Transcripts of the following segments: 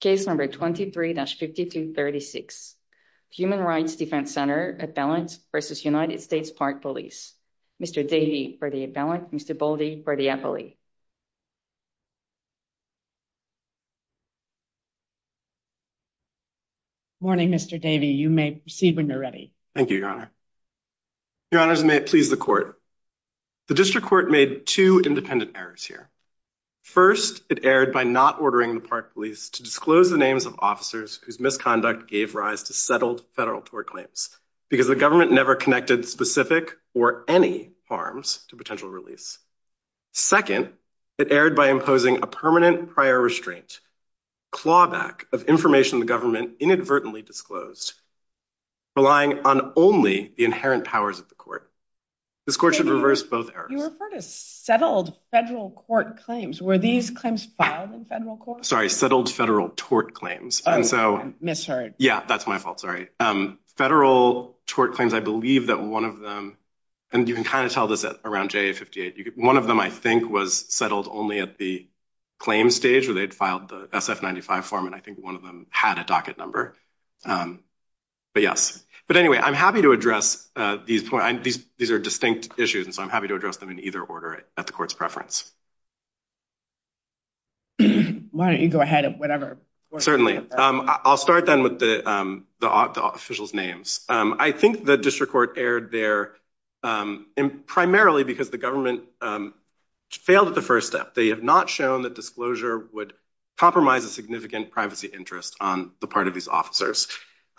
Case number 23-5236, Human Rights Defense Center appellant v. United States Park Police. Mr. Davey for the appellant, Mr. Boldy for the appellee. Morning, Mr. Davey. You may proceed when you're ready. Thank you, Your Honor. Your Honors, may it please the Court. The District Court made two independent errors here. First, it erred by not ordering the Park Police to disclose the names of officers whose misconduct gave rise to settled federal tort claims because the government never connected specific or any harms to potential release. Second, it erred by imposing a permanent prior restraint, clawback of information the government inadvertently disclosed, relying on only the inherent powers of the Court. This Court should reverse both errors. You referred to settled federal court claims. Were these claims filed in federal court? Sorry, settled federal tort claims. Oh, I misheard. Yeah, that's my fault. Sorry. Federal tort claims, I believe that one of them, and you can kind of tell this around JA-58, one of them, I think, was settled only at the claim stage where they'd filed the SF-95 form, and I think one of them had a docket number. But yes. But anyway, I'm happy to address these points. These are distinct issues, so I'm happy to address them in either order at the Court's preference. Why don't you go ahead and whatever. Certainly. I'll start then with the officials' names. I think the District Court erred there primarily because the government failed at the first step. They have not shown that disclosure would compromise a significant privacy interest on the part of these officers.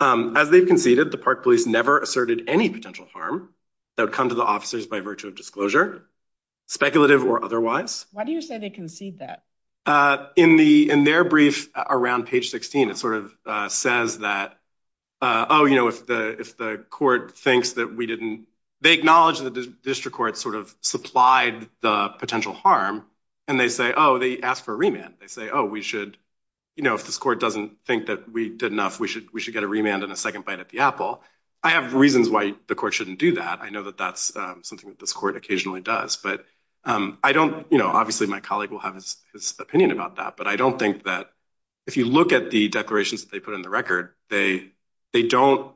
As they've conceded, the Park Police never asserted any potential harm that would come to the officers by virtue of disclosure, speculative or otherwise. Why do you say they concede that? In their brief around page 16, it sort of says that, oh, if the court thinks that we didn't, they acknowledge that the District Court sort of supplied the potential harm, and they say, oh, they asked for a remand. They say, oh, we should, if this court doesn't think that we did I have reasons why the court shouldn't do that. I know that that's something that this court occasionally does. Obviously, my colleague will have his opinion about that, but I don't think that if you look at the declarations that they put in the record, they don't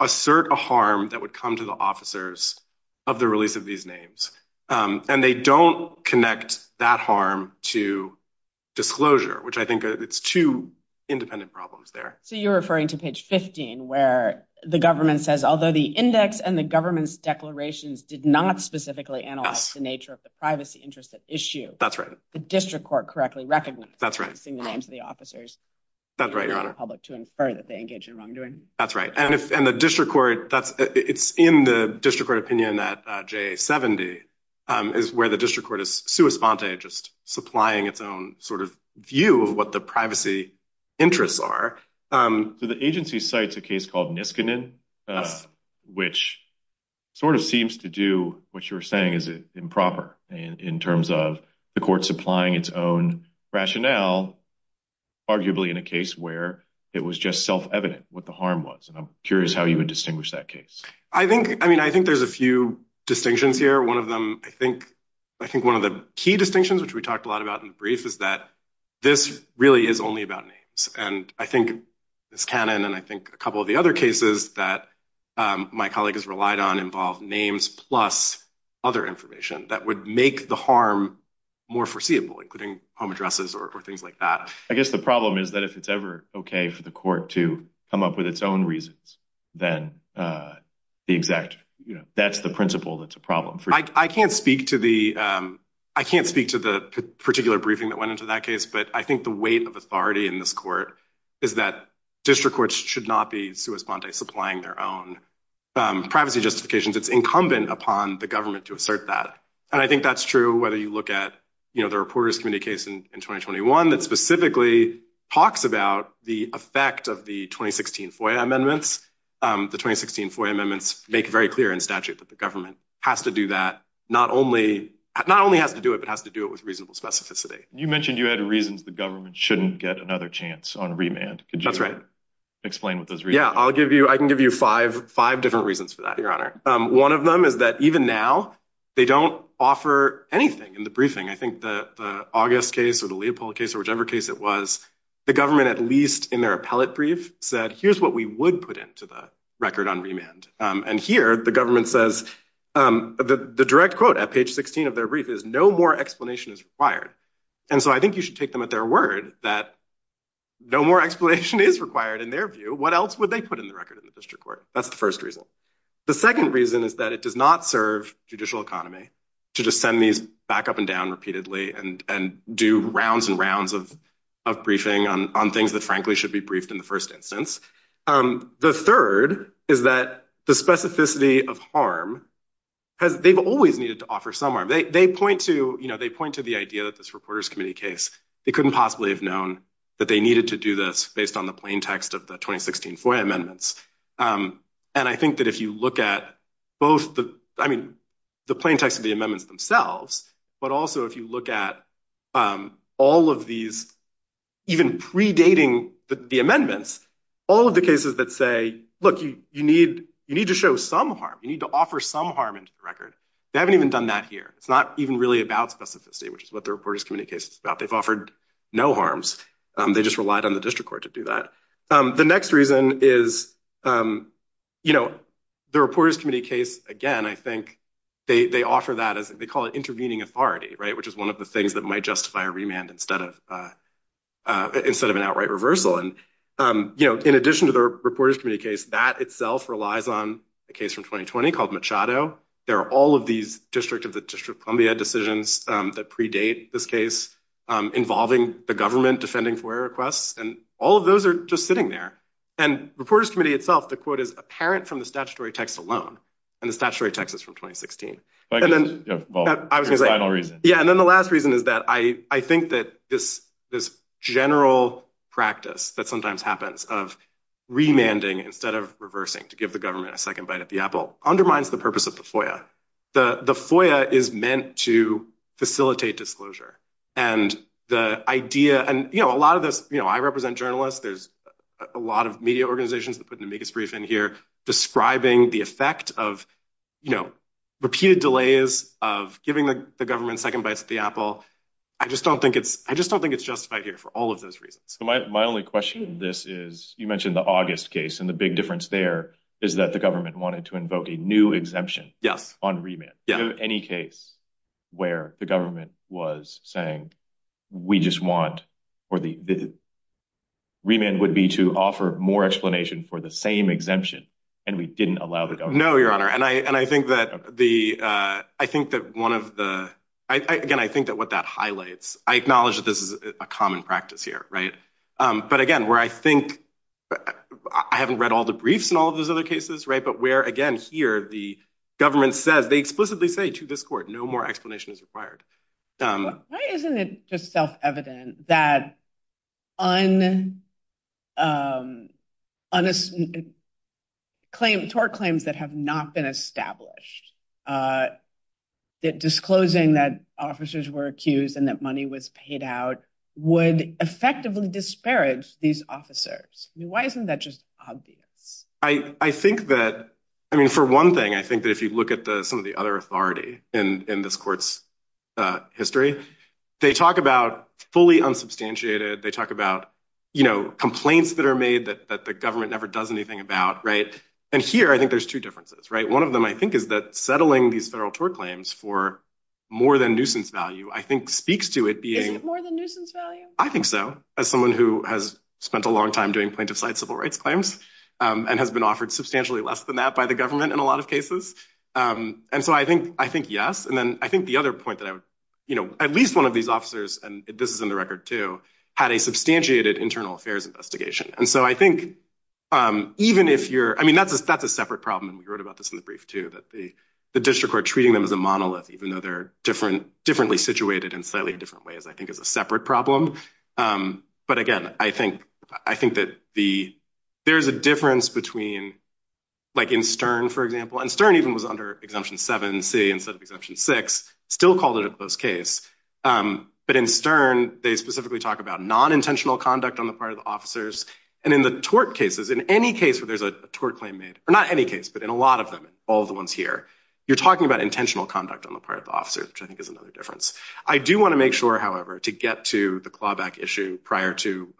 assert a harm that would come to the officers of the release of these names, and they don't connect that harm to disclosure, which I think it's two independent problems there. So you're referring to page 15, where the government says, although the index and the government's declarations did not specifically analyze the nature of the privacy interest at issue. That's right. The District Court correctly recognizes the names of the officers. That's right, Your Honor. Public to infer that they engage in wrongdoing. That's right. And the District Court, it's in the District Court opinion that JA-70 is where the District Court is sua sponte, just supplying its own sort of view of what the privacy interests are. So the agency cites a case called Niskanen, which sort of seems to do what you're saying is improper in terms of the court supplying its own rationale, arguably in a case where it was just self-evident what the harm was. And I'm curious how you would distinguish that case. I think there's a few distinctions here. One of them, I think one of the key distinctions, which we talked a lot about in the brief, is that this really is only about names. And I think Niskanen, and I think a couple of the other cases that my colleague has relied on, involve names plus other information that would make the harm more foreseeable, including home addresses or things like that. I guess the problem is that if it's ever okay for the court to come up with its own reasons, then that's the principle that's a problem. I can't speak to the particular briefing that went into that case, but I think the weight of authority in this court is that district courts should not be sui sponte, supplying their own privacy justifications. It's incumbent upon the government to assert that. And I think that's true whether you look at the Reporters Committee case in 2021 that specifically talks about the effect of the 2016 FOIA amendments. The 2016 FOIA amendments make very clear in statute that the government has to do that, not only has to do it, but has to do it with reasonable specificity. You mentioned you had reasons the government shouldn't get another chance on remand. Could you explain what those reasons are? Yeah, I can give you five different reasons for that, Your Honor. One of them is that even now they don't offer anything in the briefing. I think the August case or the Leopold case or whichever case it was, the government, at least in their appellate brief, said, here's what we would put into the record on remand. And here the government says, the direct quote at page 16 of their brief is, no more explanation is required. And so I think you should take them at their word that no more explanation is required in their view. What else would they put in the record in the district court? That's the first reason. The second reason is that it does not serve judicial economy to just send these back up and down repeatedly and do rounds and rounds of briefing on things that frankly should be briefed in the first instance. The third is that the specificity of harm has, they've always needed to offer some harm. They point to, you know, they point to the idea that this Reporters Committee case, they couldn't possibly have known that they needed to do this based on the plain text of the 2016 FOIA amendments. And I think that if you look at both the, I mean, the plain text of the amendments themselves, but also if you look at all of these, even predating the amendments, all of the cases that say, look, you need to show some harm, you need to offer some harm into the record. They haven't even done that here. It's not even really about specificity, which is what the Reporters Committee case is about. They've offered no harms. They just relied on the district court to do that. The next reason is, you know, the Reporters Committee case, again, I think they offer that as they call it intervening authority, right? Which is one of the things that might justify a remand instead of an outright reversal. And, you know, in addition to the Reporters Committee case, that itself relies on a case from 2020 called Machado. There are all of these District of Columbia decisions that predate this case involving the government defending FOIA requests. And all of those are just sitting there. And Reporters Committee itself, the quote is apparent from the statutory text alone. And the statutory text is from 2016. Yeah. And then the last reason is that I think that this general practice that sometimes happens of remanding instead of reversing to give the government a second bite at the apple undermines the purpose of the FOIA. The FOIA is meant to facilitate disclosure. And the idea, and, you know, a lot of this, you know, I represent journalists. There's a lot of media organizations that put an amicus brief in here describing the effect of, you know, repeated delays of giving the government second bites at the apple. I just don't think it's, I just don't think it's justified here for all of those reasons. My only question in this is, you mentioned the August case and the big difference there is that the government wanted to invoke a new exemption on remand. Do you have any case where the government was saying, we just want, or the remand would be to offer more explanation for the same exemption and we didn't allow the government? No, your honor. And I think that the, I think that one of the, again, I think that what that highlights, I acknowledge that this is a common practice here, right. But again, where I think, I haven't read all the briefs and all of those other cases, right. But where again, here the government says, they explicitly say to this court, no more explanation is required. Why isn't it just self-evident that tort claims that have not been established, that disclosing that officers were accused and that money was paid out would effectively disparage these officers. I mean, why isn't that just obvious? I think that, I mean, for one thing, I think that if you look at some of the other in this court's history, they talk about fully unsubstantiated. They talk about, you know, complaints that are made that the government never does anything about, right. And here, I think there's two differences, right. One of them, I think is that settling these federal tort claims for more than nuisance value, I think speaks to it being- Is it more than nuisance value? I think so. As someone who has spent a long time doing plaintiff side civil rights claims and has been offered substantially less than that by the government in a lot of cases. And so I think, I think yes. And then I think the other point that I would, you know, at least one of these officers, and this is in the record too, had a substantiated internal affairs investigation. And so I think even if you're, I mean, that's a separate problem. And we wrote about this in the brief too, that the district court treating them as a monolith, even though they're different, differently situated in slightly different ways, I think is a separate problem. But again, I think, I think that the, there's a difference between like in Stern, for example, and Stern even was under Exemption 7C instead of Exemption 6, still called it a close case. But in Stern, they specifically talk about non-intentional conduct on the part of the officers. And in the tort cases, in any case where there's a tort claim made, or not any case, but in a lot of them, all the ones here, you're talking about intentional conduct on the part of the officer, which I think is another difference. I do want to make sure, however, to get to the clawback issue prior to,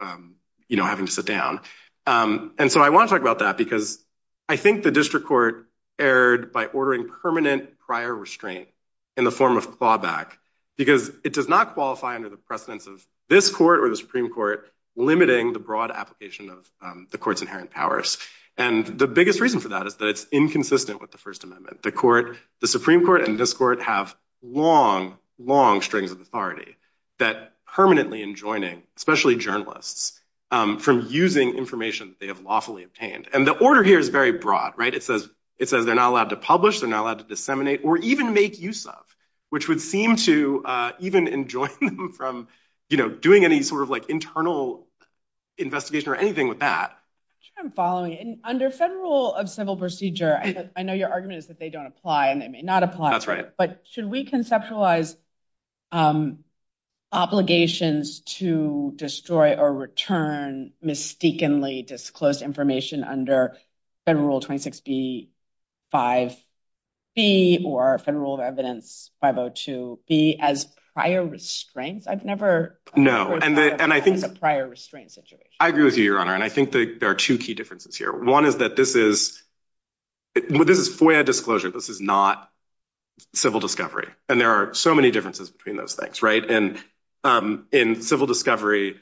you know, having to sit down. And so I want to talk about that because I think the district court erred by ordering permanent prior restraint in the form of clawback, because it does not qualify under the precedence of this court or the Supreme Court limiting the broad application of the court's inherent powers. And the biggest reason for that is that it's inconsistent with the First Amendment. The court, the Supreme Court and this court have long, long strings of authority that permanently enjoining, especially journalists, from using information that they have lawfully obtained. And the order here is very broad, right? It says they're not allowed to publish, they're not allowed to disseminate or even make use of, which would seem to even enjoin them from, you know, doing any sort of like internal investigation or anything with that. I'm following. And under federal of civil procedure, I know your argument is that they don't apply and they may not apply. That's right. But should we conceptualize obligations to destroy or return mistakenly disclosed information under Federal Rule 26B-5-B or Federal Rule of Evidence 502-B as prior restraints? I've never- No, and I think- As a prior restraint situation. I agree with you, Your Honor. And I think there are two key differences here. One is that this is FOIA disclosure. This is not civil discovery. And there are so many differences between those things, right? And in civil discovery,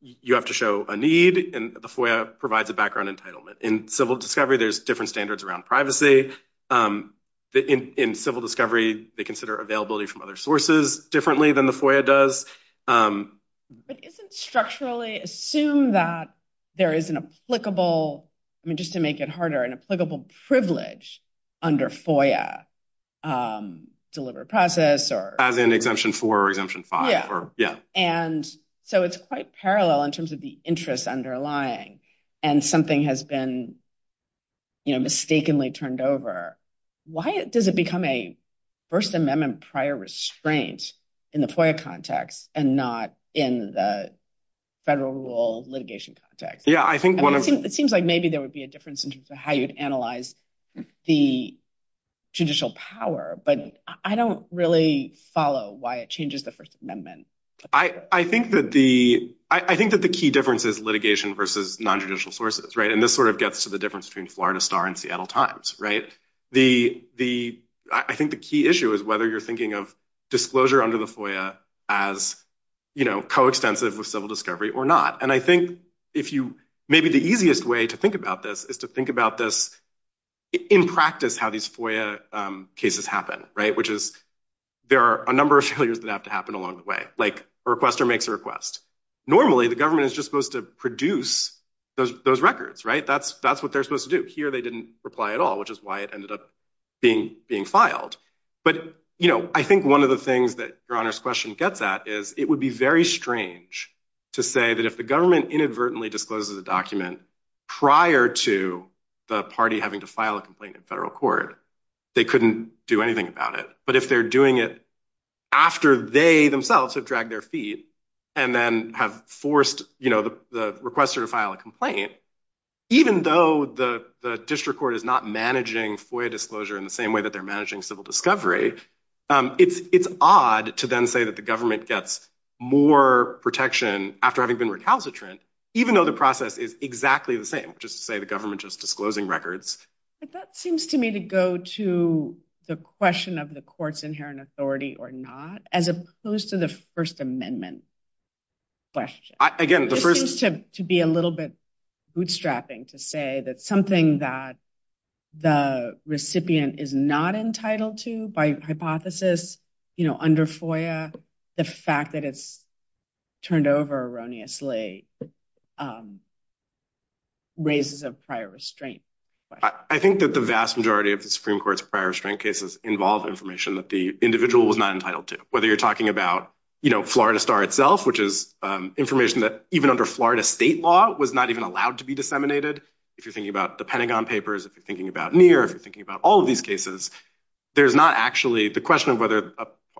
you have to show a need and the FOIA provides a background entitlement. In civil discovery, there's different standards around privacy. In civil discovery, they consider availability from other sources differently than the FOIA does. But isn't structurally assume that there is an applicable, I mean, just to make it harder, an applicable privilege under FOIA, deliberate process or- As in Exemption 4 or Exemption 5 or, yeah. And so it's quite parallel in terms of the interest underlying and something has been, you know, mistakenly turned over. Why does it become a First Amendment prior restraint in the FOIA context and not in the federal rule litigation context? Yeah, I think one of- It seems like maybe there would be a difference in terms of how you'd analyze the judicial power, but I don't really follow why it changes the First Amendment. I think that the key difference is litigation versus non-judicial sources, right? And this sort of gets to the difference between Florida Star and Seattle Times, right? I think the key issue is whether you're thinking of disclosure under the FOIA as, you know, coextensive with civil discovery or not. And I think if you- Maybe the easiest way to think about this is to think about this in practice, how these FOIA cases happen, right? Which is there are a number of failures that have to happen along the way. Like a requester makes a request. Normally, the government is just supposed to produce those records, right? That's what they're supposed to do. Here, they didn't reply at all, which is why it ended up being filed. I think one of the things that Your Honor's question gets at is it would be very strange to say that if the government inadvertently discloses a document prior to the party having to file a complaint in federal court, they couldn't do anything about it. But if they're doing it after they themselves have dragged their feet and then have forced the requester to file a complaint, even though the district court is not managing FOIA disclosure in the same way that they're managing civil discovery, it's odd to then say that the government gets more protection after having been recalcitrant, even though the process is exactly the same, just to say the government just disclosing records. But that seems to me to go to the question of the court's inherent authority or not, as opposed to the First Amendment question. Again, the first- This seems to be a bootstrapping to say that something that the recipient is not entitled to by hypothesis under FOIA, the fact that it's turned over erroneously raises a prior restraint. I think that the vast majority of the Supreme Court's prior restraint cases involve information that the individual was not entitled to, whether you're talking about Florida Star itself, which is information that even under Florida state law was not even allowed to be disseminated. If you're thinking about the Pentagon Papers, if you're thinking about NEAR, if you're thinking about all of these cases, there's not actually the question of whether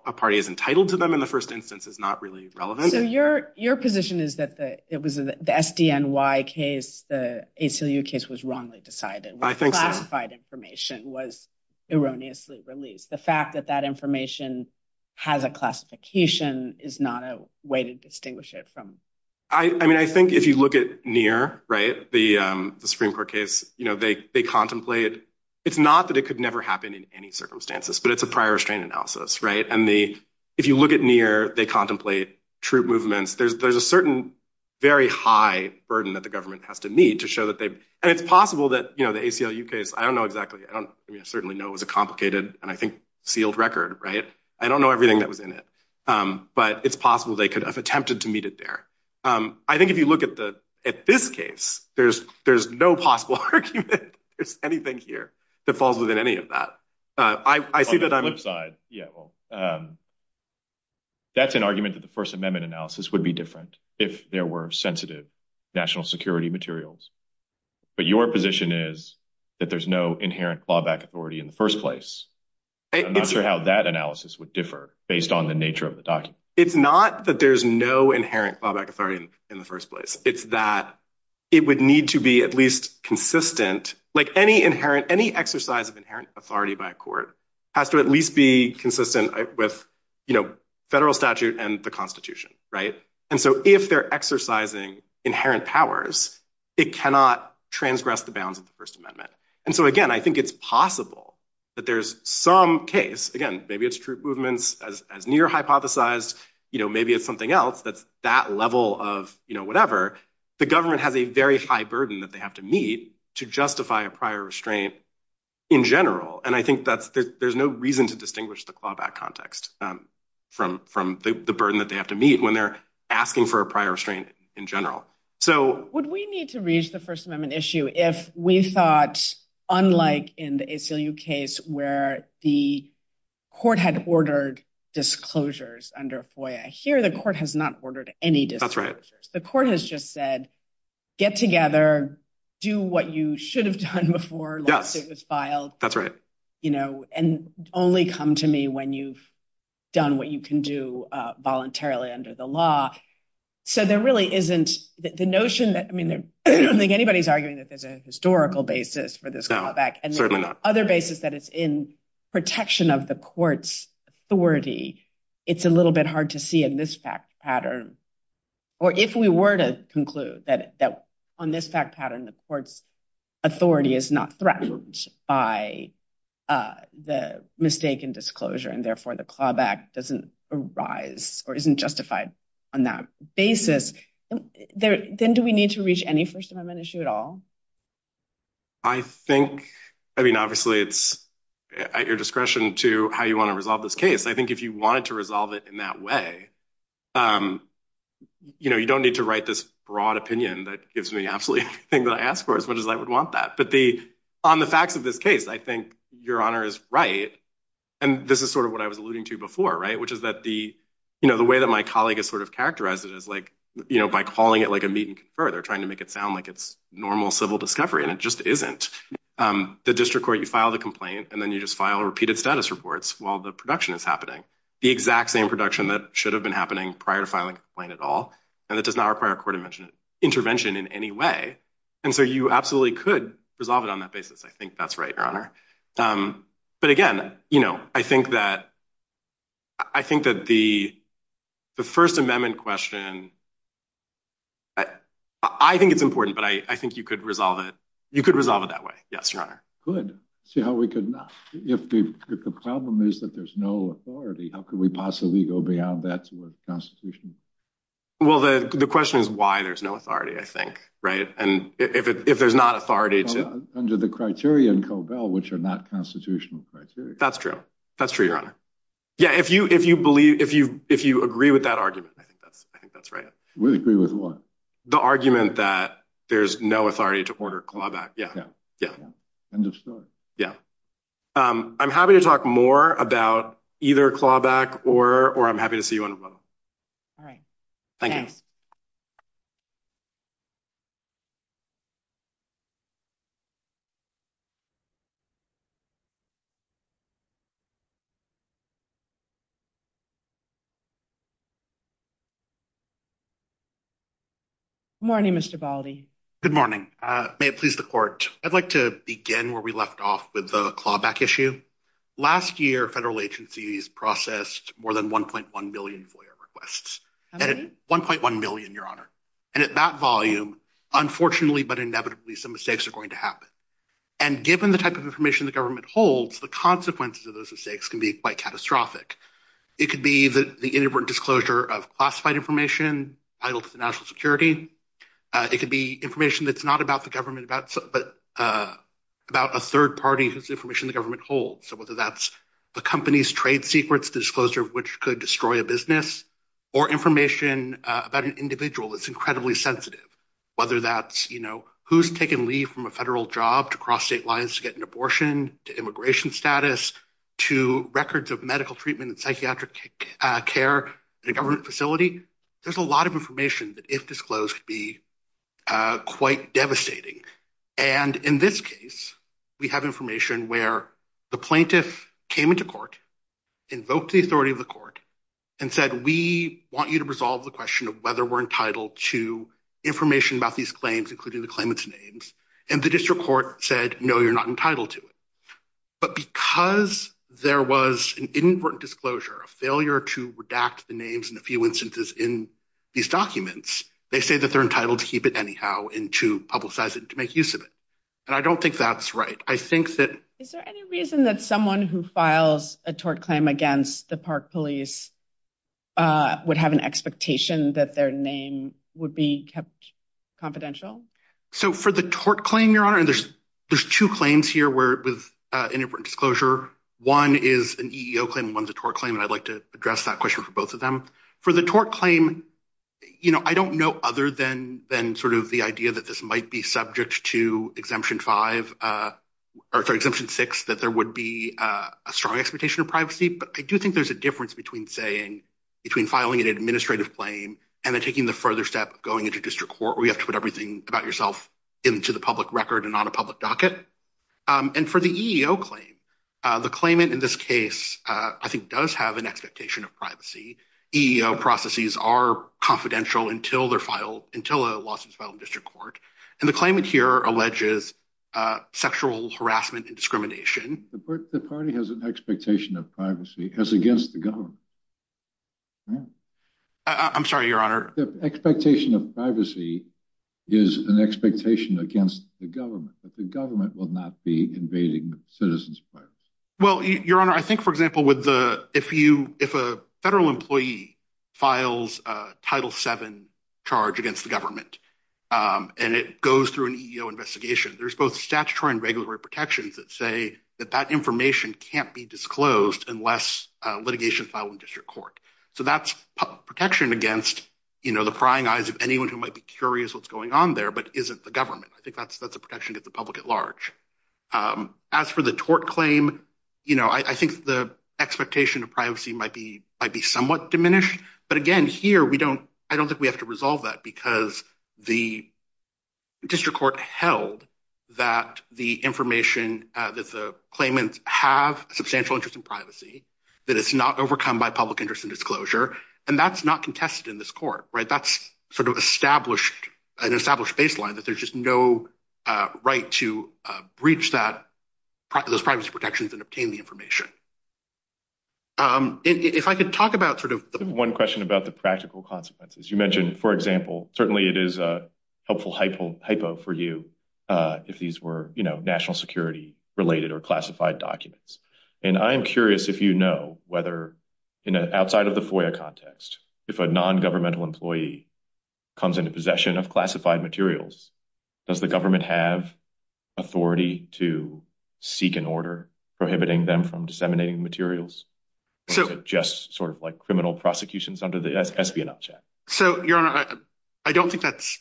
a party is entitled to them in the first instance is not really relevant. So your position is that it was the SDNY case, the ACLU case was wrongly decided. I think so. Classified information was erroneously released. The fact that that information has a classification is not a way to distinguish it from- I think if you look at NEAR, the Supreme Court case, they contemplate- It's not that it could never happen in any circumstances, but it's a prior restraint analysis. If you look at NEAR, they contemplate troop movements. There's a certain very high burden that the government has to meet to show that they've- And it's possible that the ACLU case, I don't know certainly know it was a complicated and I think sealed record. I don't know everything that was in it, but it's possible they could have attempted to meet it there. I think if you look at this case, there's no possible argument. There's anything here that falls within any of that. I see that- On the flip side, yeah. Well, that's an argument that the First Amendment analysis would be different if there were sensitive national security materials. But your position is that there's no inherent clawback authority in the first place. I'm not sure how that analysis would differ based on the nature of the document. It's not that there's no inherent clawback authority in the first place. It's that it would need to be at least consistent. Any exercise of inherent authority by a court has to at least be consistent with federal statute and the constitution. If they're exercising inherent powers, it cannot transgress the bounds of the First Amendment. Again, I think it's possible that there's some case, again, maybe it's troop movements as near hypothesized, maybe it's something else that's that level of whatever. The government has a very high burden that they have to meet to justify a prior restraint in general. I think there's no reason to distinguish the clawback context from the burden that they have to meet when they're asking for a prior restraint in general. Would we need to reach the First Amendment issue if we thought, unlike in the ACLU case where the court had ordered disclosures under FOIA? Here, the court has not ordered any disclosures. The court has just said, get together, do what you should have done before lawsuit was filed, and only come to me when you've done what you can do voluntarily under the law. So there really isn't the notion that, I mean, I don't think anybody's arguing that there's a historical basis for this clawback and other basis that it's in protection of the court's authority. It's a little bit hard to see in this fact pattern, or if we were to conclude that on this fact pattern, the court's authority is not threatened by the mistake in disclosure, and therefore the clawback doesn't arise or isn't justified on that basis. Then do we need to reach any First Amendment issue at all? I think, I mean, obviously it's at your discretion to how you want to resolve this case. I think if you wanted to resolve it in that way, you don't need to write this broad opinion that gives me absolutely everything that I asked for as much as I would want that. But on the facts of this case, I think Your Honor is right. And this is sort of what I was alluding to before, right? Which is that the way that my colleague has sort of characterized it is like, by calling it like a meet and confer, they're trying to make it sound like it's normal civil discovery, and it just isn't. The district court, you file the complaint, and then you just file repeated status reports while the production is happening. The exact same production that should have been happening prior to filing a complaint at all, and it does not require a court intervention in any way. And so you absolutely could resolve it on that basis. I think that's right, Your Honor. But again, I think that the First Amendment question, I think it's important, but I think you could resolve it that way. Yes, Your Honor. Good. The problem is that there's no authority. How could we possibly go beyond that to a constitution? Well, the question is why there's no authority, I think, right? And if there's not under the criteria in Cobell, which are not constitutional criteria. That's true. That's true, Your Honor. Yeah. If you agree with that argument, I think that's right. We agree with what? The argument that there's no authority to order clawback. Yeah. Yeah. End of story. Yeah. I'm happy to talk more about either clawback or I'm happy to see you on the panel. All right. Thank you. Good morning, Mr. Baldi. Good morning. May it please the court. I'd like to begin where we left off with the clawback issue. Last year, federal agencies processed more than 1.1 million requests. 1.1 million, Your Honor. And at that volume, unfortunately, but inevitably, some mistakes are going to happen. And given the type of information the government holds, the consequences of those mistakes can be quite catastrophic. It could be that the inadvertent disclosure of classified information, title to the national security. It could be information that's not about the government, but about a third party whose information the government holds. So whether that's the company's trade secrets, the disclosure of which could destroy a business, or information about an individual that's incredibly sensitive, whether that's who's taken leave from a federal job to cross state lines to get an abortion, to immigration status, to records of medical treatment and psychiatric care in a government facility. There's a lot of information that if disclosed could be quite devastating. And in this case, we have information where the plaintiff came into court, invoked the authority of the court, and said, we want you to resolve the question of whether we're entitled to information about these claims, including the claimant's names. And the district court said, no, you're not entitled to it. But because there was an inadvertent disclosure, a failure to redact the names in a few instances in these documents, they say that they're entitled to keep it anyhow and to publicize it and to make use of it. And I don't think that's right. I think that- Is there any reason that someone who files a tort claim against the Park Police would have an expectation that their name would be kept confidential? So for the tort claim, Your Honor, and there's two claims here with inadvertent disclosure. One is an EEO claim and one's a tort claim, and I'd like to address that question for both of them. For the tort claim, I don't know other than the idea that this might be subject to Exemption 6, that there would be a strong expectation of privacy. But I do think there's a difference between filing an administrative claim and then taking the further step of going into district court, where you have to put everything about yourself into the public record and on a public docket. And for the EEO claim, the claimant in this case, I think, does have an expectation of privacy. EEO processes are confidential until a lawsuit is filed in court. And the claimant here alleges sexual harassment and discrimination. The party has an expectation of privacy as against the government. I'm sorry, Your Honor. The expectation of privacy is an expectation against the government, that the government will not be invading citizens' privacy. Well, Your Honor, I think, for example, if a federal employee files a Title VII charge against the government and it goes through an EEO investigation, there's both statutory and regulatory protections that say that that information can't be disclosed unless litigation filed in district court. So that's protection against the prying eyes of anyone who might be curious what's going on there, but isn't the government. I think that's a protection to the public at large. As for the tort claim, I think the expectation of privacy might be somewhat diminished. But again, here, I don't think we have to resolve that because the district court held that the information that the claimants have substantial interest in privacy, that it's not overcome by public interest in disclosure, and that's not contested in this court. That's sort of an established baseline, that there's just no right to breach those privacy protections and obtain the information. If I could talk about sort of the... One question about the practical consequences. You mentioned, for example, certainly it is a helpful hypo for you if these were national security-related or classified documents. And I am curious if you know whether, outside of the FOIA context, if a non-governmental employee comes into possession of classified materials, does the government have authority to seek an order prohibiting them from disseminating materials, just sort of like criminal prosecutions under the espionage act? So, Your Honor, I don't think that's...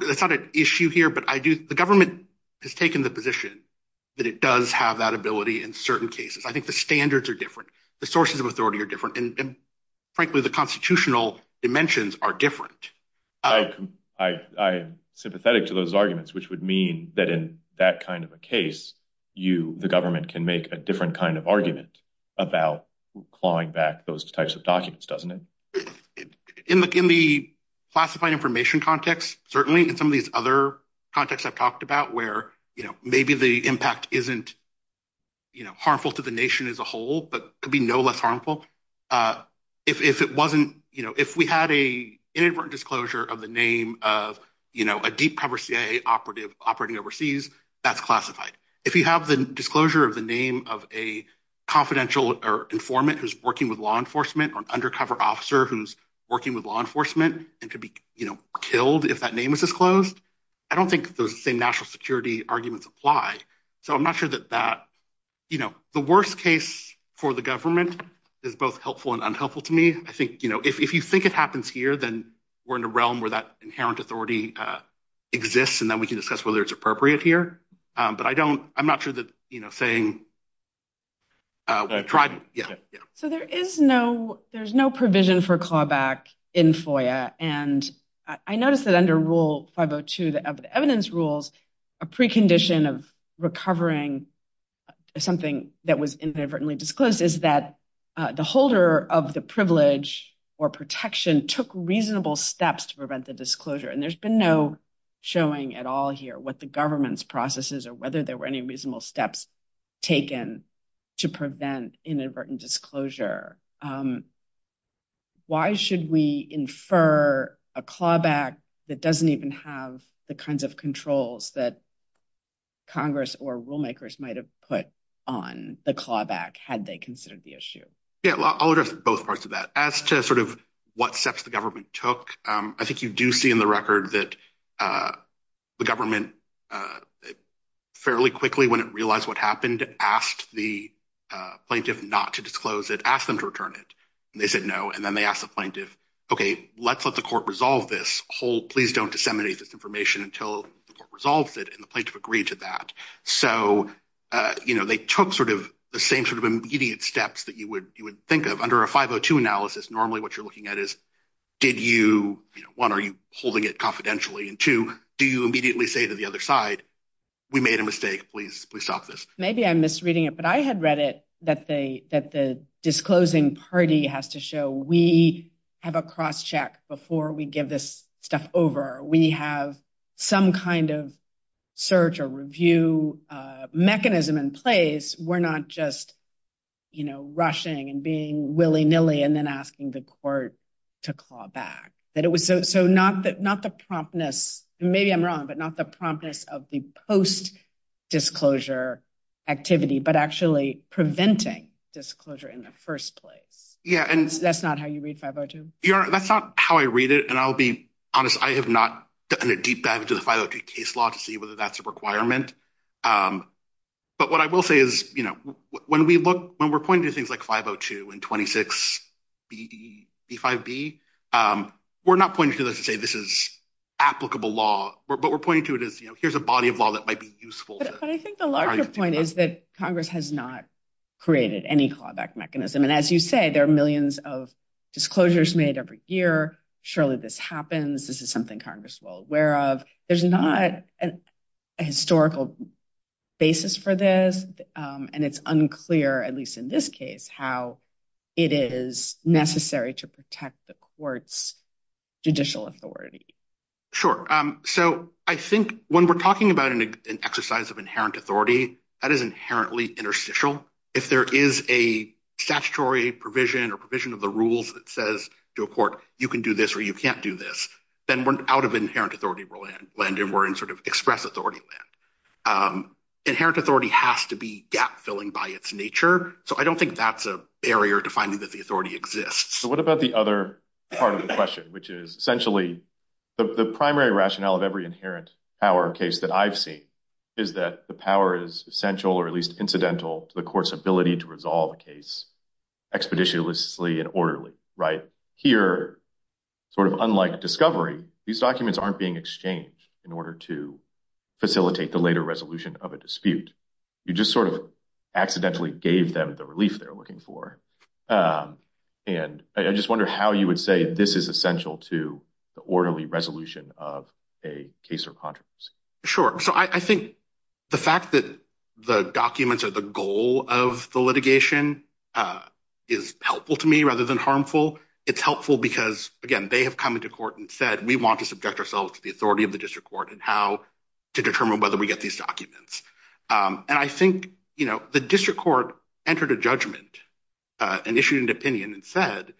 That's not an issue here, but the government has taken the position that it does have that ability in certain cases. I think the standards are different. The sources of authority are different. And frankly, the constitutional dimensions are different. I am sympathetic to those arguments, which would mean that in that kind of a case, the government can make a different kind of argument about clawing back those types of documents, doesn't it? In the classified information context, certainly, in some of these other contexts I've talked about where maybe the impact isn't harmful to the nation as a whole, but could be no less harmful. If we had an inadvertent disclosure of the name of a deep-cover CIA operating overseas, that's classified. If you have the disclosure of the name of a confidential informant who's working with law enforcement or an undercover officer who's working with law enforcement and could be killed if that name is disclosed, I don't think those same national security arguments apply. So I'm not sure that that, you know, the worst case for the government is both helpful and unhelpful to me. I think, you know, if you think it happens here, then we're in a realm where that inherent authority exists, and then we can discuss whether it's appropriate here. But I don't, I'm not sure that, you know, saying. So there is no, there's no provision for clawback in FOIA. And I noticed that under Rule 502, evidence rules, a precondition of recovering something that was inadvertently disclosed is that the holder of the privilege or protection took reasonable steps to prevent the disclosure. And there's been no showing at all here what the government's processes or whether there were any reasonable steps taken to prevent inadvertent disclosure. Why should we infer a clawback that doesn't even have the kinds of controls that Congress or rulemakers might have put on the clawback had they considered the issue? Yeah, I'll address both parts of that. As to sort of what steps the government took, I think you do see in the record that the government fairly quickly, when it realized what happened, asked the plaintiff not to disclose it, asked them to return it. And they said, no. And then they asked the plaintiff, okay, let's let the court resolve this whole, please don't disseminate this information until the court resolves it. And the plaintiff agreed to that. So, you know, they took sort of the same sort of immediate steps that you would think of under a 502 analysis. Normally what you're looking at is, did you, you know, one, are you holding it confidentially? And two, do you immediately say to the other side, we made a mistake, please, please stop this. Maybe I'm misreading it, I had read it that the disclosing party has to show we have a cross check before we give this stuff over. We have some kind of search or review mechanism in place. We're not just, you know, rushing and being willy nilly and then asking the court to claw back. So not the promptness, maybe I'm wrong, but not the promptness of the post disclosure activity, but actually preventing disclosure in the first place. Yeah. And that's not how you read 502. That's not how I read it. And I'll be honest, I have not done a deep dive into the 502 case law to see whether that's a requirement. But what I will say is, you know, when we look, when we're this is applicable law, but we're pointing to it as, you know, here's a body of law that might be useful. But I think the larger point is that Congress has not created any clawback mechanism. And as you say, there are millions of disclosures made every year. Surely this happens. This is something Congress will aware of. There's not an historical basis for this. And it's unclear, at least in this case, how it is necessary to protect the court's judicial authority. Sure. So I think when we're talking about an exercise of inherent authority, that is inherently interstitial. If there is a statutory provision or provision of the rules that says to a court, you can do this or you can't do this, then we're out of inherent authority and we're in sort of express authority land. Inherent authority has to be gap filling by its nature. So I don't think that's a barrier to finding that the authority exists. So what about the other part of the question, which is essentially the primary rationale of every inherent power case that I've seen is that the power is essential or at least incidental to the court's ability to resolve a case expeditiously and orderly, right? Here, sort of unlike discovery, these documents aren't being exchanged in order to facilitate the later resolution of a dispute. You just sort of accidentally gave them the relief they're looking for. And I just wonder how you would say this is essential to the orderly resolution of a case or controversy. Sure. So I think the fact that the documents are the goal of the litigation is helpful to me rather than harmful. It's helpful because, again, they have come into court and said, we want to subject ourselves to the authority of the district court and how to determine whether we get these documents. And I think the district court entered a judgment and issued an opinion and said,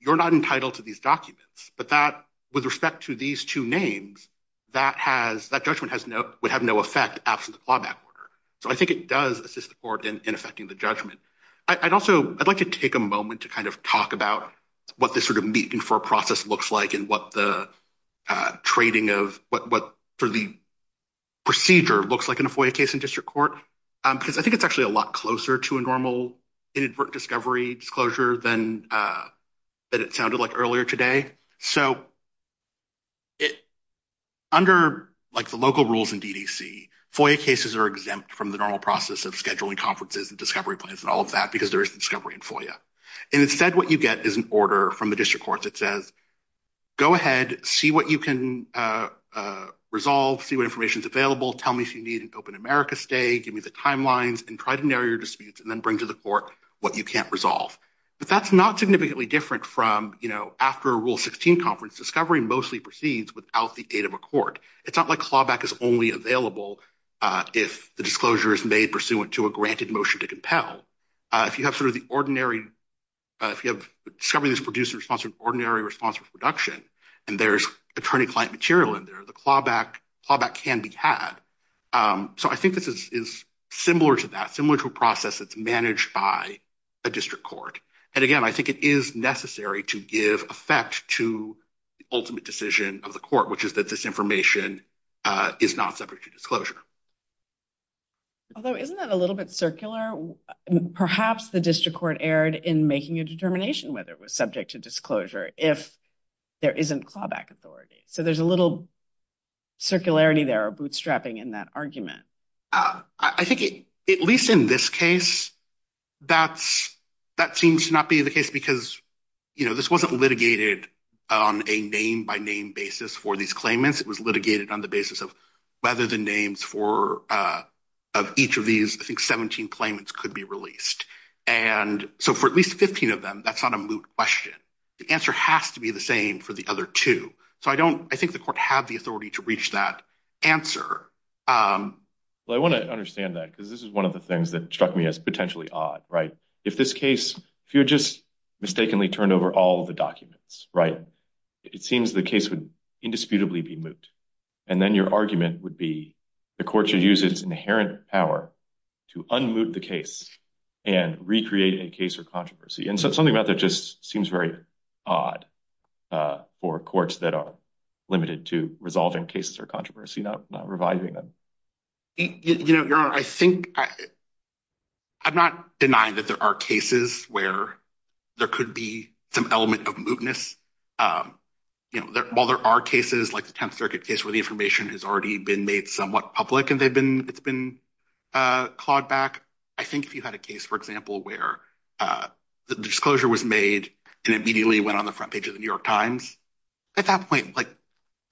you're not entitled to these documents. But that, with respect to these two names, that judgment would have no effect after the clawback order. So I think it does assist the court in effecting the judgment. I'd also, I'd like to take a moment to kind of talk about what this sort of meeting for a process looks like and what the trading of, what sort of the procedure looks like in a FOIA case in district court, because I think it's actually a lot closer to a normal inadvertent discovery disclosure than it sounded like earlier today. So under, like, the local rules in DDC, FOIA cases are exempt from the normal process of scheduling conferences and discovery plans and all of that because there is discovery in FOIA. And instead, what you get is an order from the district court that says, go ahead, see what you can resolve, see what information is available, tell me if you need an open America stay, give me the timelines, and try to narrow your disputes and then bring to the court what you can't resolve. But that's not significantly different from, you know, after a Rule 16 conference, discovery mostly proceeds without the aid of a court. It's not like clawback is only available if the disclosure is made pursuant to a granted motion to compel. If you have sort of the ordinary, if you have discovery that's produced in response to an ordinary response for production, and there's attorney-client material in there, the clawback can be had. So I think this is similar to that, similar to a process that's managed by a district court. And again, I think it is necessary to give effect to the ultimate decision of the court, which is that this information is not subject to disclosure. Although isn't that a little bit circular? Perhaps the district court erred in making a determination whether it was subject to disclosure if there isn't clawback authority. So there's a little circularity there or bootstrapping in that argument. I think, at least in this case, that seems to not be the case because, you know, this wasn't litigated on a name-by-name basis for these claimants. It was litigated on the basis of whether the names of each of these, I think, 17 claimants could be released. And so for at least 15 of them, that's not a moot question. The answer has to be the same for the other two. So I don't, have the authority to reach that answer. Well, I want to understand that because this is one of the things that struck me as potentially odd, right? If this case, if you just mistakenly turned over all of the documents, right, it seems the case would indisputably be moot. And then your argument would be the court should use its inherent power to unmoot the case and recreate a case or controversy. And so something about that just seems very odd for courts that limited to resolving cases or controversy, not reviving them. You know, Your Honor, I think, I'm not denying that there are cases where there could be some element of mootness. While there are cases like the Tenth Circuit case where the information has already been made somewhat public and it's been clawed back, I think if you had a case, for example, where the disclosure was made and immediately went on the front page of the New York Times, at that point, like,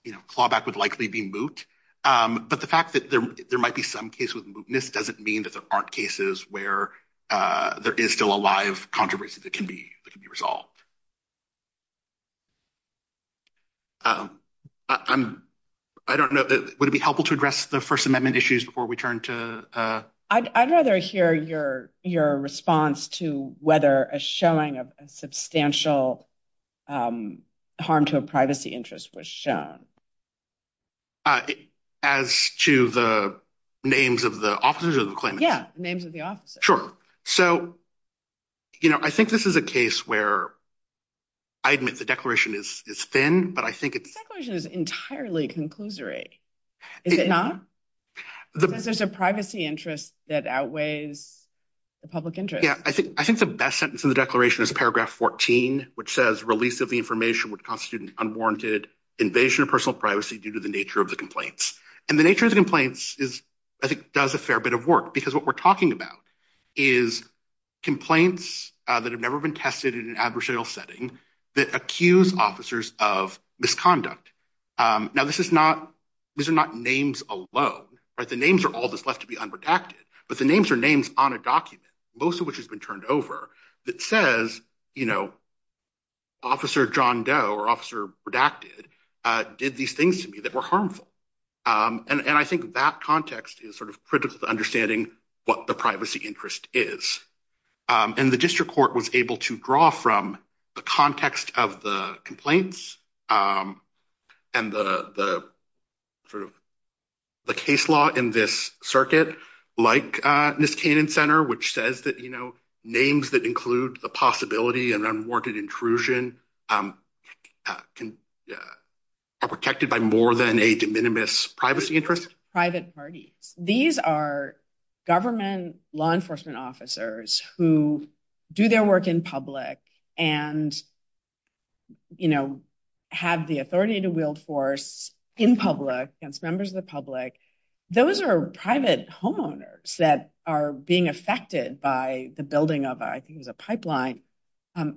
you know, clawback would likely be moot. But the fact that there might be some case with mootness doesn't mean that there aren't cases where there is still a live controversy that can be resolved. I don't know, would it be helpful to address the First Amendment issues before we turn to... I'd rather hear your response to whether a showing of a public interest was shown. As to the names of the officers or the claimants? Yeah, names of the officers. Sure. So, you know, I think this is a case where I admit the declaration is thin, but I think it's... The declaration is entirely conclusory, is it not? Because there's a privacy interest that outweighs the public interest. Yeah, I think the best sentence in the declaration is which says release of the information would constitute an unwarranted invasion of personal privacy due to the nature of the complaints. And the nature of the complaints is, I think, does a fair bit of work, because what we're talking about is complaints that have never been tested in an adversarial setting that accuse officers of misconduct. Now, this is not... These are not names alone, right? The names are all that's left to be unprotected, but the names are on a document, most of which has been turned over, that says, you know, Officer John Doe or Officer Redacted did these things to me that were harmful. And I think that context is sort of critical to understanding what the privacy interest is. And the district court was able to draw from the context of the complaints and the case law in this circuit, like Niskanen Center, which says that names that include the possibility of unwarranted intrusion are protected by more than a de minimis privacy interest. Private parties. These are government law enforcement officers who do their work in public and have the authority to wield force in public against members of the public. Those are private homeowners that are being affected by the building of, I think it was a pipeline.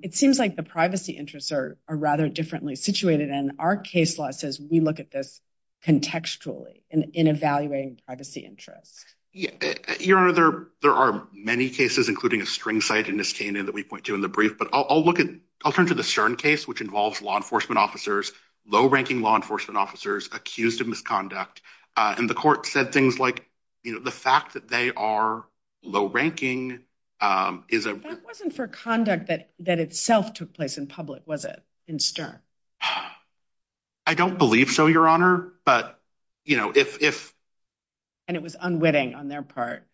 It seems like the privacy interests are rather differently situated. And our case law says we look at this contextually in evaluating privacy interests. Your Honor, there are many cases, including a string site in Niskanen that we point to in the brief, but I'll look at, I'll turn to the Stern case, which involves law enforcement officers, low ranking law enforcement officers accused of misconduct. And the court said things like, you know, the fact that they are low ranking. That wasn't for conduct that itself took place in public, was it? In Stern? I don't believe so, Your Honor. But, you know, if. And it was unwitting on their part.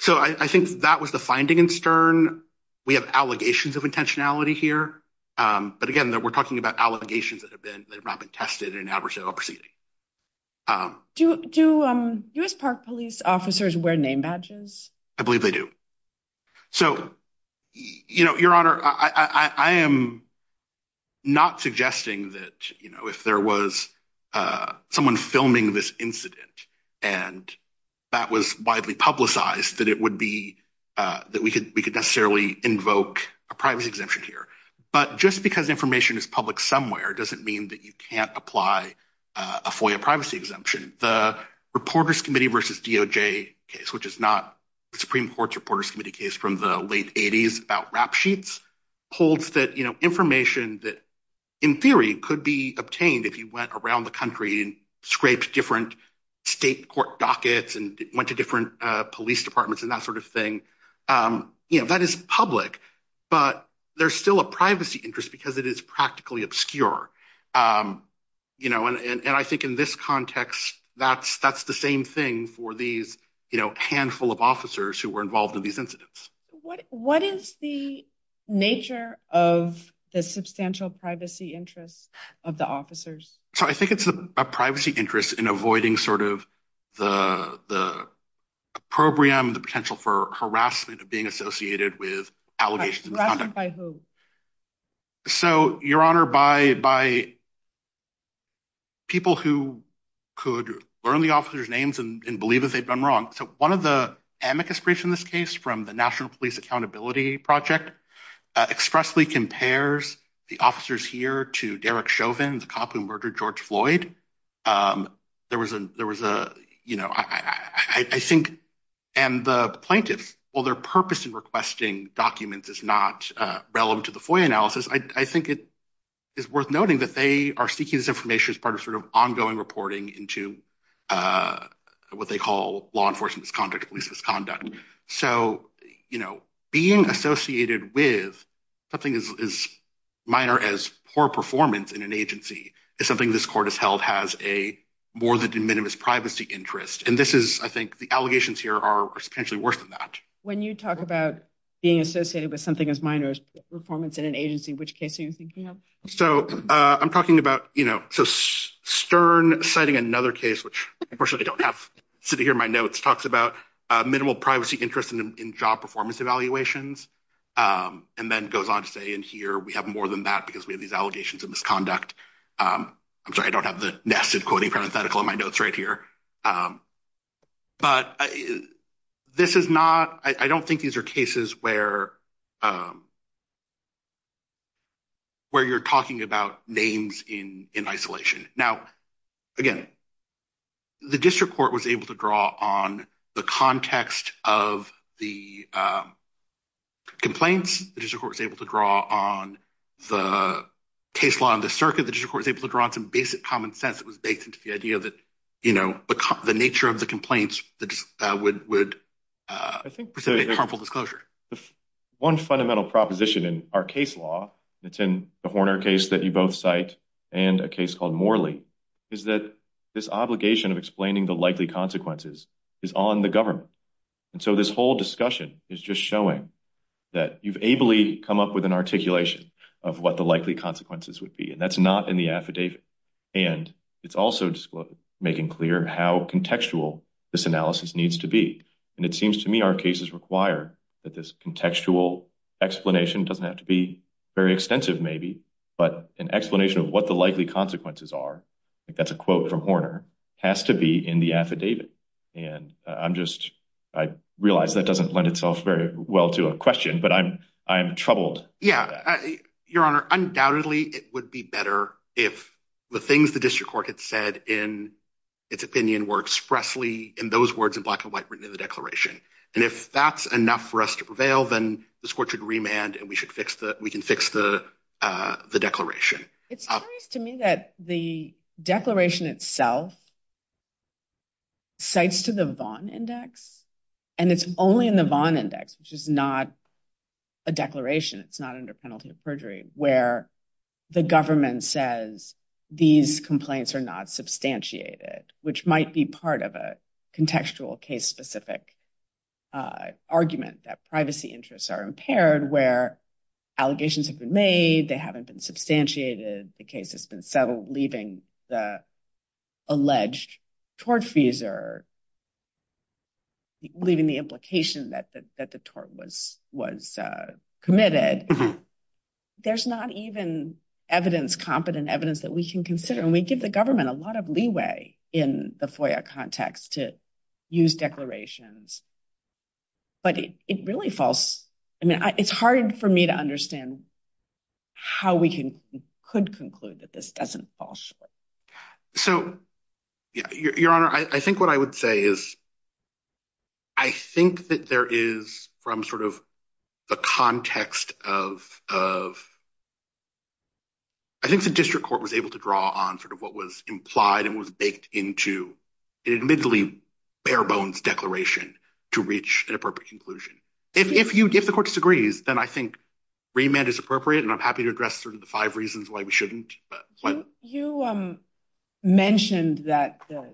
So I think that was the finding in Stern. We have allegations of intentionality here. But again, we're talking about allegations that have not been tested in an adversarial proceeding. Do U.S. Park Police officers wear name badges? I believe they do. So, you know, Your Honor, I am not suggesting that, you know, if there was someone filming this incident and that was widely publicized, that it would be that we could we could necessarily invoke a privacy exemption here. But just because information is public somewhere doesn't mean that you can't apply a FOIA privacy exemption. The Reporters Committee versus DOJ case, which is not the Supreme Court's Reporters Committee case from the late 80s about rap sheets, holds that, you know, information that in theory could be obtained if you went around the country and scraped different state court dockets and went to different police departments and that sort of thing, you know, that is public. But there's still a privacy interest because it is practically obscure. You know, and I think in this context, that's that's the same thing for these handful of officers who were involved in these incidents. What is the nature of the substantial privacy interests of the officers? So I think it's a privacy interest in avoiding sort of the the opprobrium, the potential for harassment of being associated with allegations. So, Your Honor, by by people who could learn the officer's names and believe that they've wronged. So one of the amicus briefs in this case from the National Police Accountability Project expressly compares the officers here to Derek Chauvin, the cop who murdered George Floyd. There was a there was a, you know, I think and the plaintiffs, well, their purpose in requesting documents is not relevant to the FOIA analysis. I think it is worth noting that they are seeking this information as part of sort of ongoing reporting into what they call law enforcement misconduct, police misconduct. So, you know, being associated with something as minor as poor performance in an agency is something this court has held has a more than de minimis privacy interest. And this is I think the allegations here are potentially worse than that. When you talk about being associated with something as minor as performance in an agency, which case are you thinking of? So I'm talking about, you know, so Stern citing another case, which unfortunately I don't have sitting here in my notes, talks about minimal privacy interest in job performance evaluations and then goes on to say in here we have more than that because we have these allegations of misconduct. I'm sorry, I don't have the nested quoting parenthetical in my notes right here. But this is not I don't think these are cases where you're talking about names in isolation. Now, again, the district court was able to draw on the context of the complaints. The district court was able to draw on the case law and the circuit. The district court was able to draw on some basic common sense that was based the idea that, you know, the nature of the complaints that would would I think one fundamental proposition in our case law, it's in the Horner case that you both cite and a case called Morley, is that this obligation of explaining the likely consequences is on the government. And so this whole discussion is just showing that you've ably come up with an articulation of what the likely consequences would be. And that's not the affidavit. And it's also making clear how contextual this analysis needs to be. And it seems to me our cases require that this contextual explanation doesn't have to be very extensive, maybe, but an explanation of what the likely consequences are. That's a quote from Horner has to be in the affidavit. And I'm just I realize that doesn't lend itself very well to a question, but I'm I'm troubled. Yeah, Your Honor. Undoubtedly, it would be better if the things the district court had said in its opinion were expressly in those words in black and white written in the declaration. And if that's enough for us to prevail, then this court should remand and we should fix that. We can fix the the declaration. It's to me that the declaration itself. Cites to the Vaughn Index, and it's only in the Vaughn Index, which is not a declaration, it's not under penalty of perjury where the government says these complaints are not substantiated, which might be part of a contextual case specific argument that privacy interests are impaired, where allegations have been made. They haven't been substantiated. The case has been settled, leaving the alleged tortfeasor. Leaving the implication that that the tort was was committed. There's not even evidence, competent evidence that we can consider, and we give the government a lot of leeway in the FOIA context to use declarations. But it really falls. I mean, it's hard for me to understand how we can could conclude that this doesn't fall short. So, your honor, I think what I would say is I think that there is from sort of the context of I think the district court was able to draw on sort of what was implied and was baked into an admittedly bare-bones declaration to reach an appropriate conclusion. If the court disagrees, then I think remand is appropriate, and I'm happy to address sort of the five reasons why we shouldn't. You mentioned that the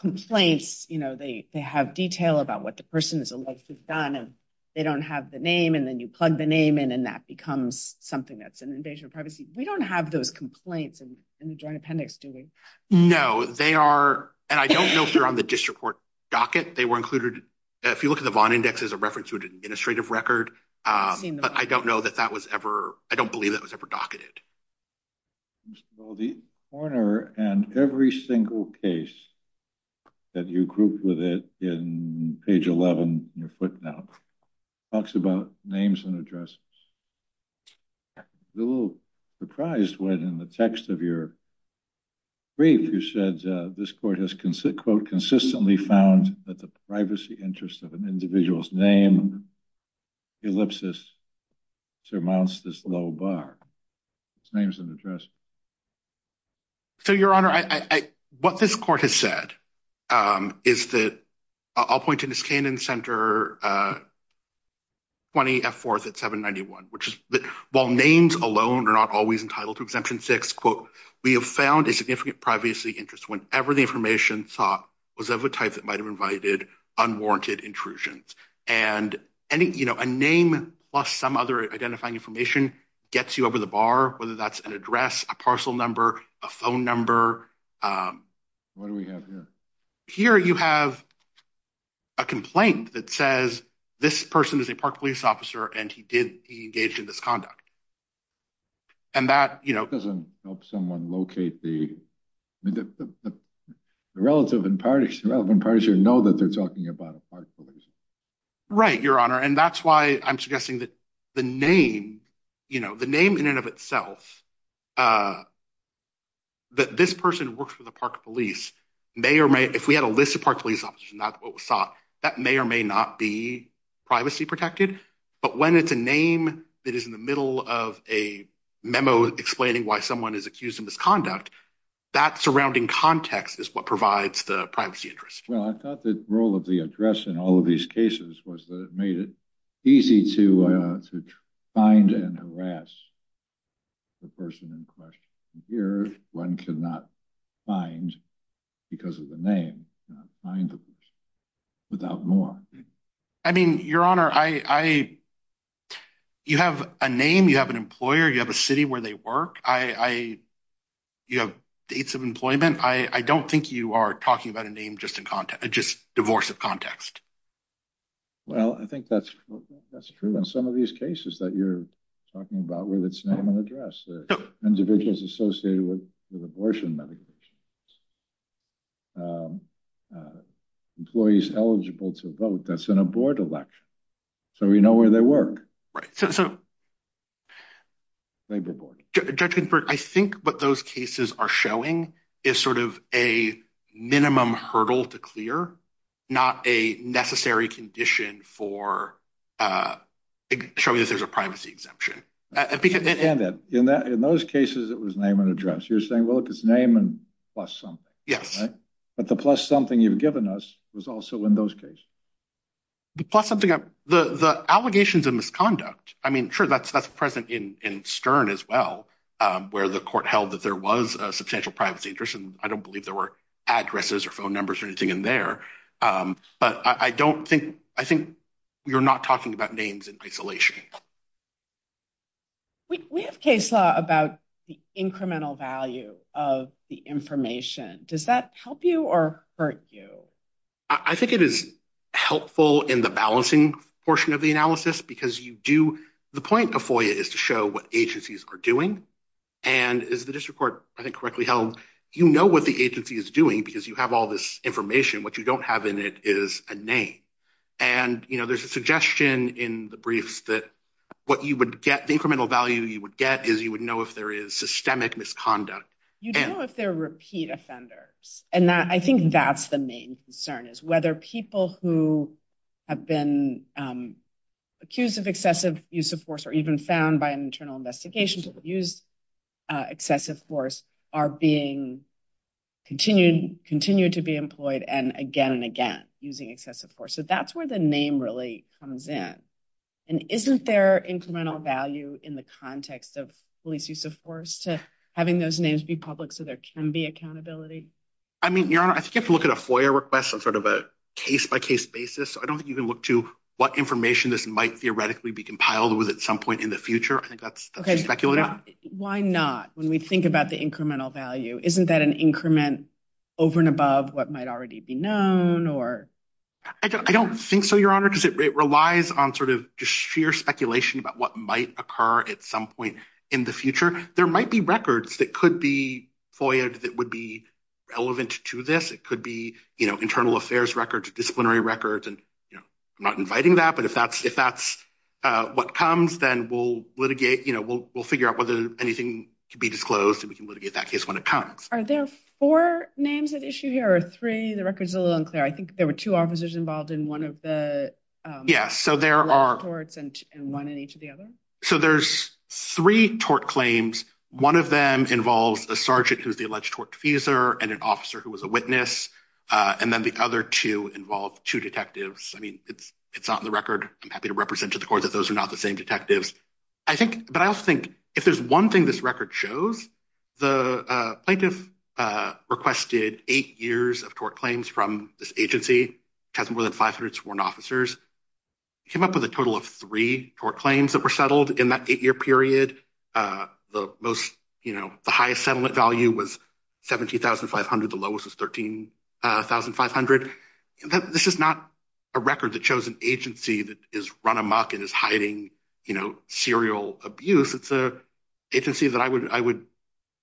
complaints, you know, they have detail about what the person is alleged to have done, and they don't have the name, and then you plug the name in, and that becomes something that's an invasion of privacy. We don't have those complaints in the Joint Appendix, do we? No, they are, and I don't know if they're on the district court docket. They were included, if you look at the Vaughn Index as a reference to an administrative record, but I don't know that that was ever, I don't believe that was ever docketed. Well, the coroner and every single case that you grouped with it in page 11, in your footnote, talks about names and addresses. I was a little surprised when, in the text of your brief, you said this court has, quote, consistently found that the privacy interest of an individual's name, ellipsis, surmounts this low bar. It's names and addresses. So, Your Honor, I, what this court has said is that, I'll point to Ms. Kanin's Center 20F4 at 791, which is that while names alone are not always entitled to Exemption 6, quote, we have found a significant privacy interest whenever the information sought was of a type that might have invited unwarranted intrusions, and any, you know, a name plus some other identifying information gets you over the bar, whether that's an address, a parcel number, a phone number. What do we have here? Here, you have a complaint that says, this person is a Park Police officer, and he did, he engaged in this conduct. And that, you know, doesn't help someone locate the, I mean, the relative and parties, the relevant parties here know that they're talking about a Park Police. Right, Your Honor, and that's why I'm suggesting that the name, you know, the name in and of itself, that this person works for the Park Police may or may, if we had a list of Park Police officers, and that's what was sought, that may or may not be privacy protected, but when it's a name that is in the middle of a memo explaining why someone is accused of misconduct, that surrounding context is what provides the privacy interest. Well, I thought the role of the address in all of these here, one cannot find, because of the name, find them without more. I mean, Your Honor, I, you have a name, you have an employer, you have a city where they work. I, you have dates of employment. I don't think you are talking about a name, just in context, just divorce of context. Well, I think that's, that's true in some of these cases that you're talking about with its name and address. Individuals associated with abortion medications. Employees eligible to vote, that's in a board election, so we know where they work. Right. So, so, Judge Ginsburg, I think what those cases are showing is sort of a minimum hurdle to clear, not a necessary condition for showing that there's a privacy exemption. I understand that. In that, in those cases, it was name and address. You're saying, well, look, it's name and plus something. Yes. But the plus something you've given us was also in those cases. The plus something, the, the allegations of misconduct, I mean, sure, that's, that's present in, in Stern as well, where the court held that there was a substantial privacy interest, and I don't believe there were addresses or phone numbers or anything in there. But I don't think, I think you're not talking about names in isolation. We have case law about the incremental value of the information. Does that help you or hurt you? I think it is helpful in the balancing portion of the analysis because you do, the point of FOIA is to show what agencies are doing. And as the district court, I think, correctly held, you know what the agency is doing because you have all this information. What you don't have in it is a name. And, you know, there's a suggestion in the briefs that what you would get, the incremental value you would get is you would know if there is systemic misconduct. You don't know if they're repeat offenders. And that, I think that's the main concern is whether people who have been accused of excessive use of force or even found by an using excessive force. So that's where the name really comes in. And isn't there incremental value in the context of police use of force to having those names be public so there can be accountability? I mean, your honor, I think you have to look at a FOIA request on sort of a case by case basis. So I don't think you can look to what information this might theoretically be compiled with at some point in the future. I think that's speculative. Why not? When we think about the incremental value, isn't that an increment over and above what might already be known or? I don't think so, your honor, because it relies on sort of just sheer speculation about what might occur at some point in the future. There might be records that could be FOIAed that would be relevant to this. It could be, you know, internal affairs records, disciplinary records. And, you know, I'm not inviting that, but if that's what comes, then we'll litigate, you know, we'll figure out whether anything can be disclosed and we can litigate that case when it comes. Are there four names at issue here or three? The record is a little unclear. I think there were two officers involved in one of the torts and one in each of the other. So there's three tort claims. One of them involves a sergeant who's the alleged tort defuser and an officer who was a witness. And then the other two involve two detectives. I mean, it's not in the record. I'm happy to represent to the court that those are not the same detectives. I think, but I also think if there's one thing this record shows, the plaintiff requested eight years of tort claims from this agency, which has more than 500 sworn officers, came up with a total of three tort claims that were settled in that eight-year period. The most, you know, the highest settlement value was $17,500. The lowest was $13,500. This is not a record that shows an agency that is run amok and is hiding, you know, serial abuse. It's an agency that I would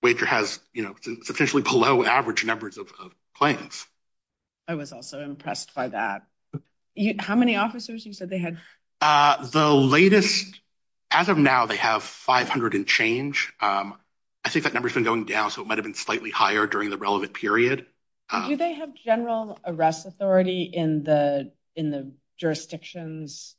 wager has, you know, substantially below average numbers of claims. I was also impressed by that. How many officers you said they had? The latest, as of now, they have 500 and change. I think that number's been going down. So it might've been slightly higher during the relevant period. Do they have general arrest authority in the jurisdictions?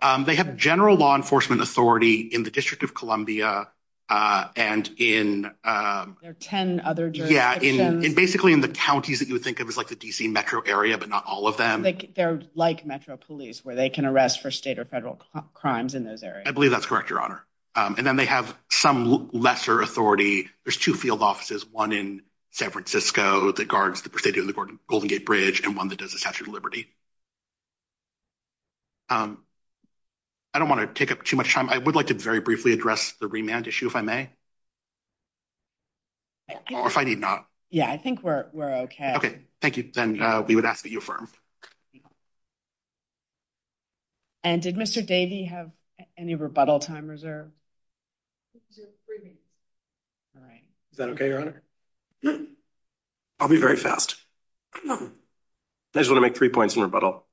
They have general law enforcement authority in the District of Columbia and in- There are 10 other jurisdictions. Yeah, and basically in the counties that you would think of as like the DC metro area, but not all of them. They're like metro police where they can arrest for state or federal crimes in those areas. I believe that's correct, Your Honor. And then they have some lesser authority. There's two offices, one in San Francisco that guards the Presidio and the Golden Gate Bridge, and one that does the Statue of Liberty. I don't want to take up too much time. I would like to very briefly address the remand issue, if I may. Or if I need not. Yeah, I think we're okay. Okay, thank you. Then we would ask that you affirm. And did Mr. Davey have any rebuttal time reserved? He has three minutes. All right. Is that okay, Your Honor? I'll be very fast. I just want to make three points in rebuttal.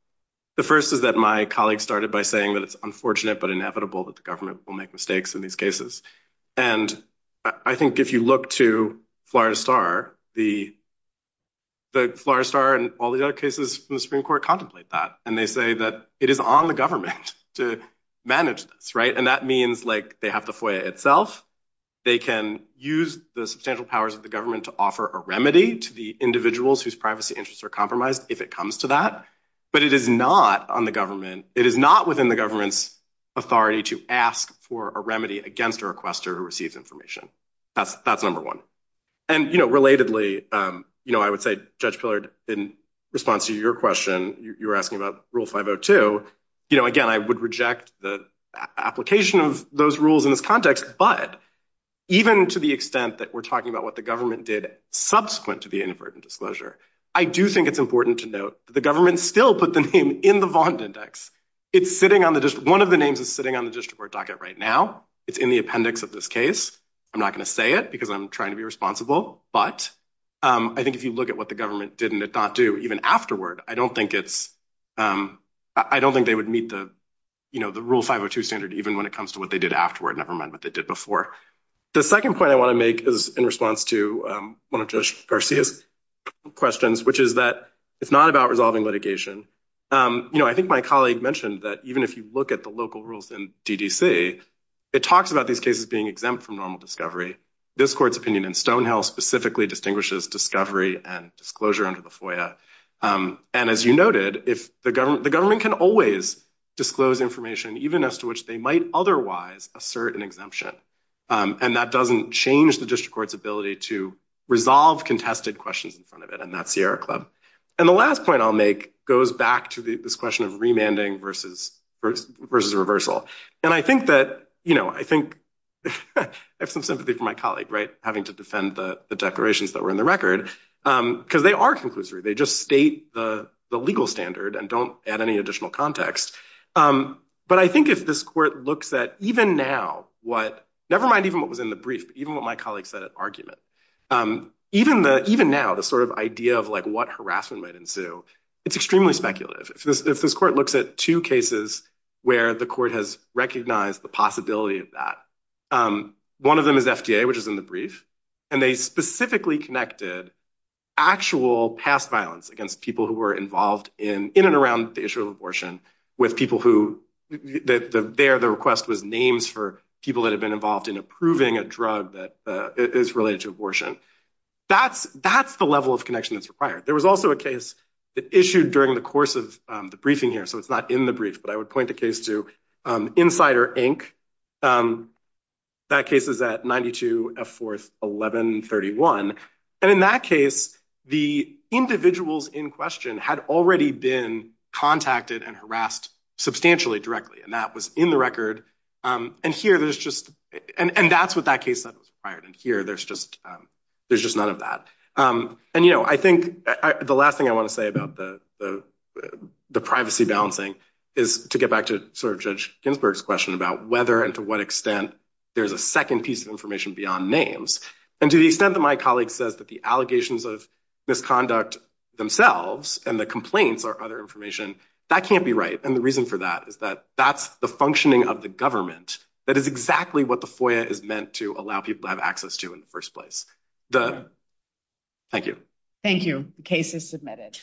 The first is that my colleague started by saying that it's unfortunate but inevitable that the government will make mistakes in these cases. And I think if you look to Florida Star, the Florida Star and all the other cases from the Supreme Court contemplate that. And they say that it is on the government to manage this. And that means they have the FOIA itself. They can use the substantial powers of the government to offer a remedy to the individuals whose privacy interests are compromised if it comes to that. But it is not on the government. It is not within the government's authority to ask for a remedy against a requester who receives information. That's number one. And relatedly, I would say, Judge Pillard, in response to your question, you were asking about Rule 502. Again, I would reject the application of those rules in this context. But even to the extent that we're talking about what the government did subsequent to the inadvertent disclosure, I do think it's important to note that the government still put the name in the Vaughn Index. One of the names is sitting on the district court docket right now. It's in the appendix of this case. I'm not going to say it because I'm trying to be responsible. But I think if you look at what the government did and did not do even afterward, I don't think they would meet the Rule 502 standard, even when it comes to what they did afterward, never mind what they did before. The second point I want to make is in response to one of Judge Garcia's questions, which is that it's not about resolving litigation. I think my colleague mentioned that even if you look at the local rules in DDC, it talks about these cases being exempt from normal discovery. This court's opinion in Stonehill specifically distinguishes discovery and disclosure under the FOIA. And as you noted, the government can always disclose information, even as to which they might otherwise assert an exemption. And that doesn't change the district court's ability to resolve contested questions in front of it. And that's Sierra Club. And the last point I'll make goes back to this question of remanding versus reversal. And I have some sympathy for my colleague having to defend the declarations that were in the record, because they are conclusory. They just state the legal standard and don't add any additional context. But I think if this court looks at even now, never mind even what was in the brief, even what my colleague said at argument, even now, the sort of idea of what harassment might ensue, it's extremely speculative. If this court looks at two cases where the court has recognized the possibility of that, one of them is FDA, which is in the brief. And they specifically connected actual past violence against people who were involved in and around the issue of abortion with people who, there the request was names for people that have been involved in approving a drug that is related to abortion. That's the level of connection that's required. There was also a case that issued during the course of the briefing here. So it's not in the brief, but I would point the case to Insider, Inc. That case is at 92 F4, 1131. And in that case, the individuals in question had already been contacted and harassed substantially directly. And that was in the record. And here there's just, and that's what that case said was required. And here there's just, there's just none of that. And, you know, I think the last thing I want to say about the privacy balancing is to get back to sort of Judge Ginsburg's question about whether and to what extent there's a second piece of information beyond names. And to the extent that my colleague says that the allegations of misconduct themselves and the complaints are other information that can't be right. And the reason for that is that that's the functioning of the government. That is exactly what the FOIA is meant to allow people to have access to in the first place. Thank you. Thank you. The case is submitted.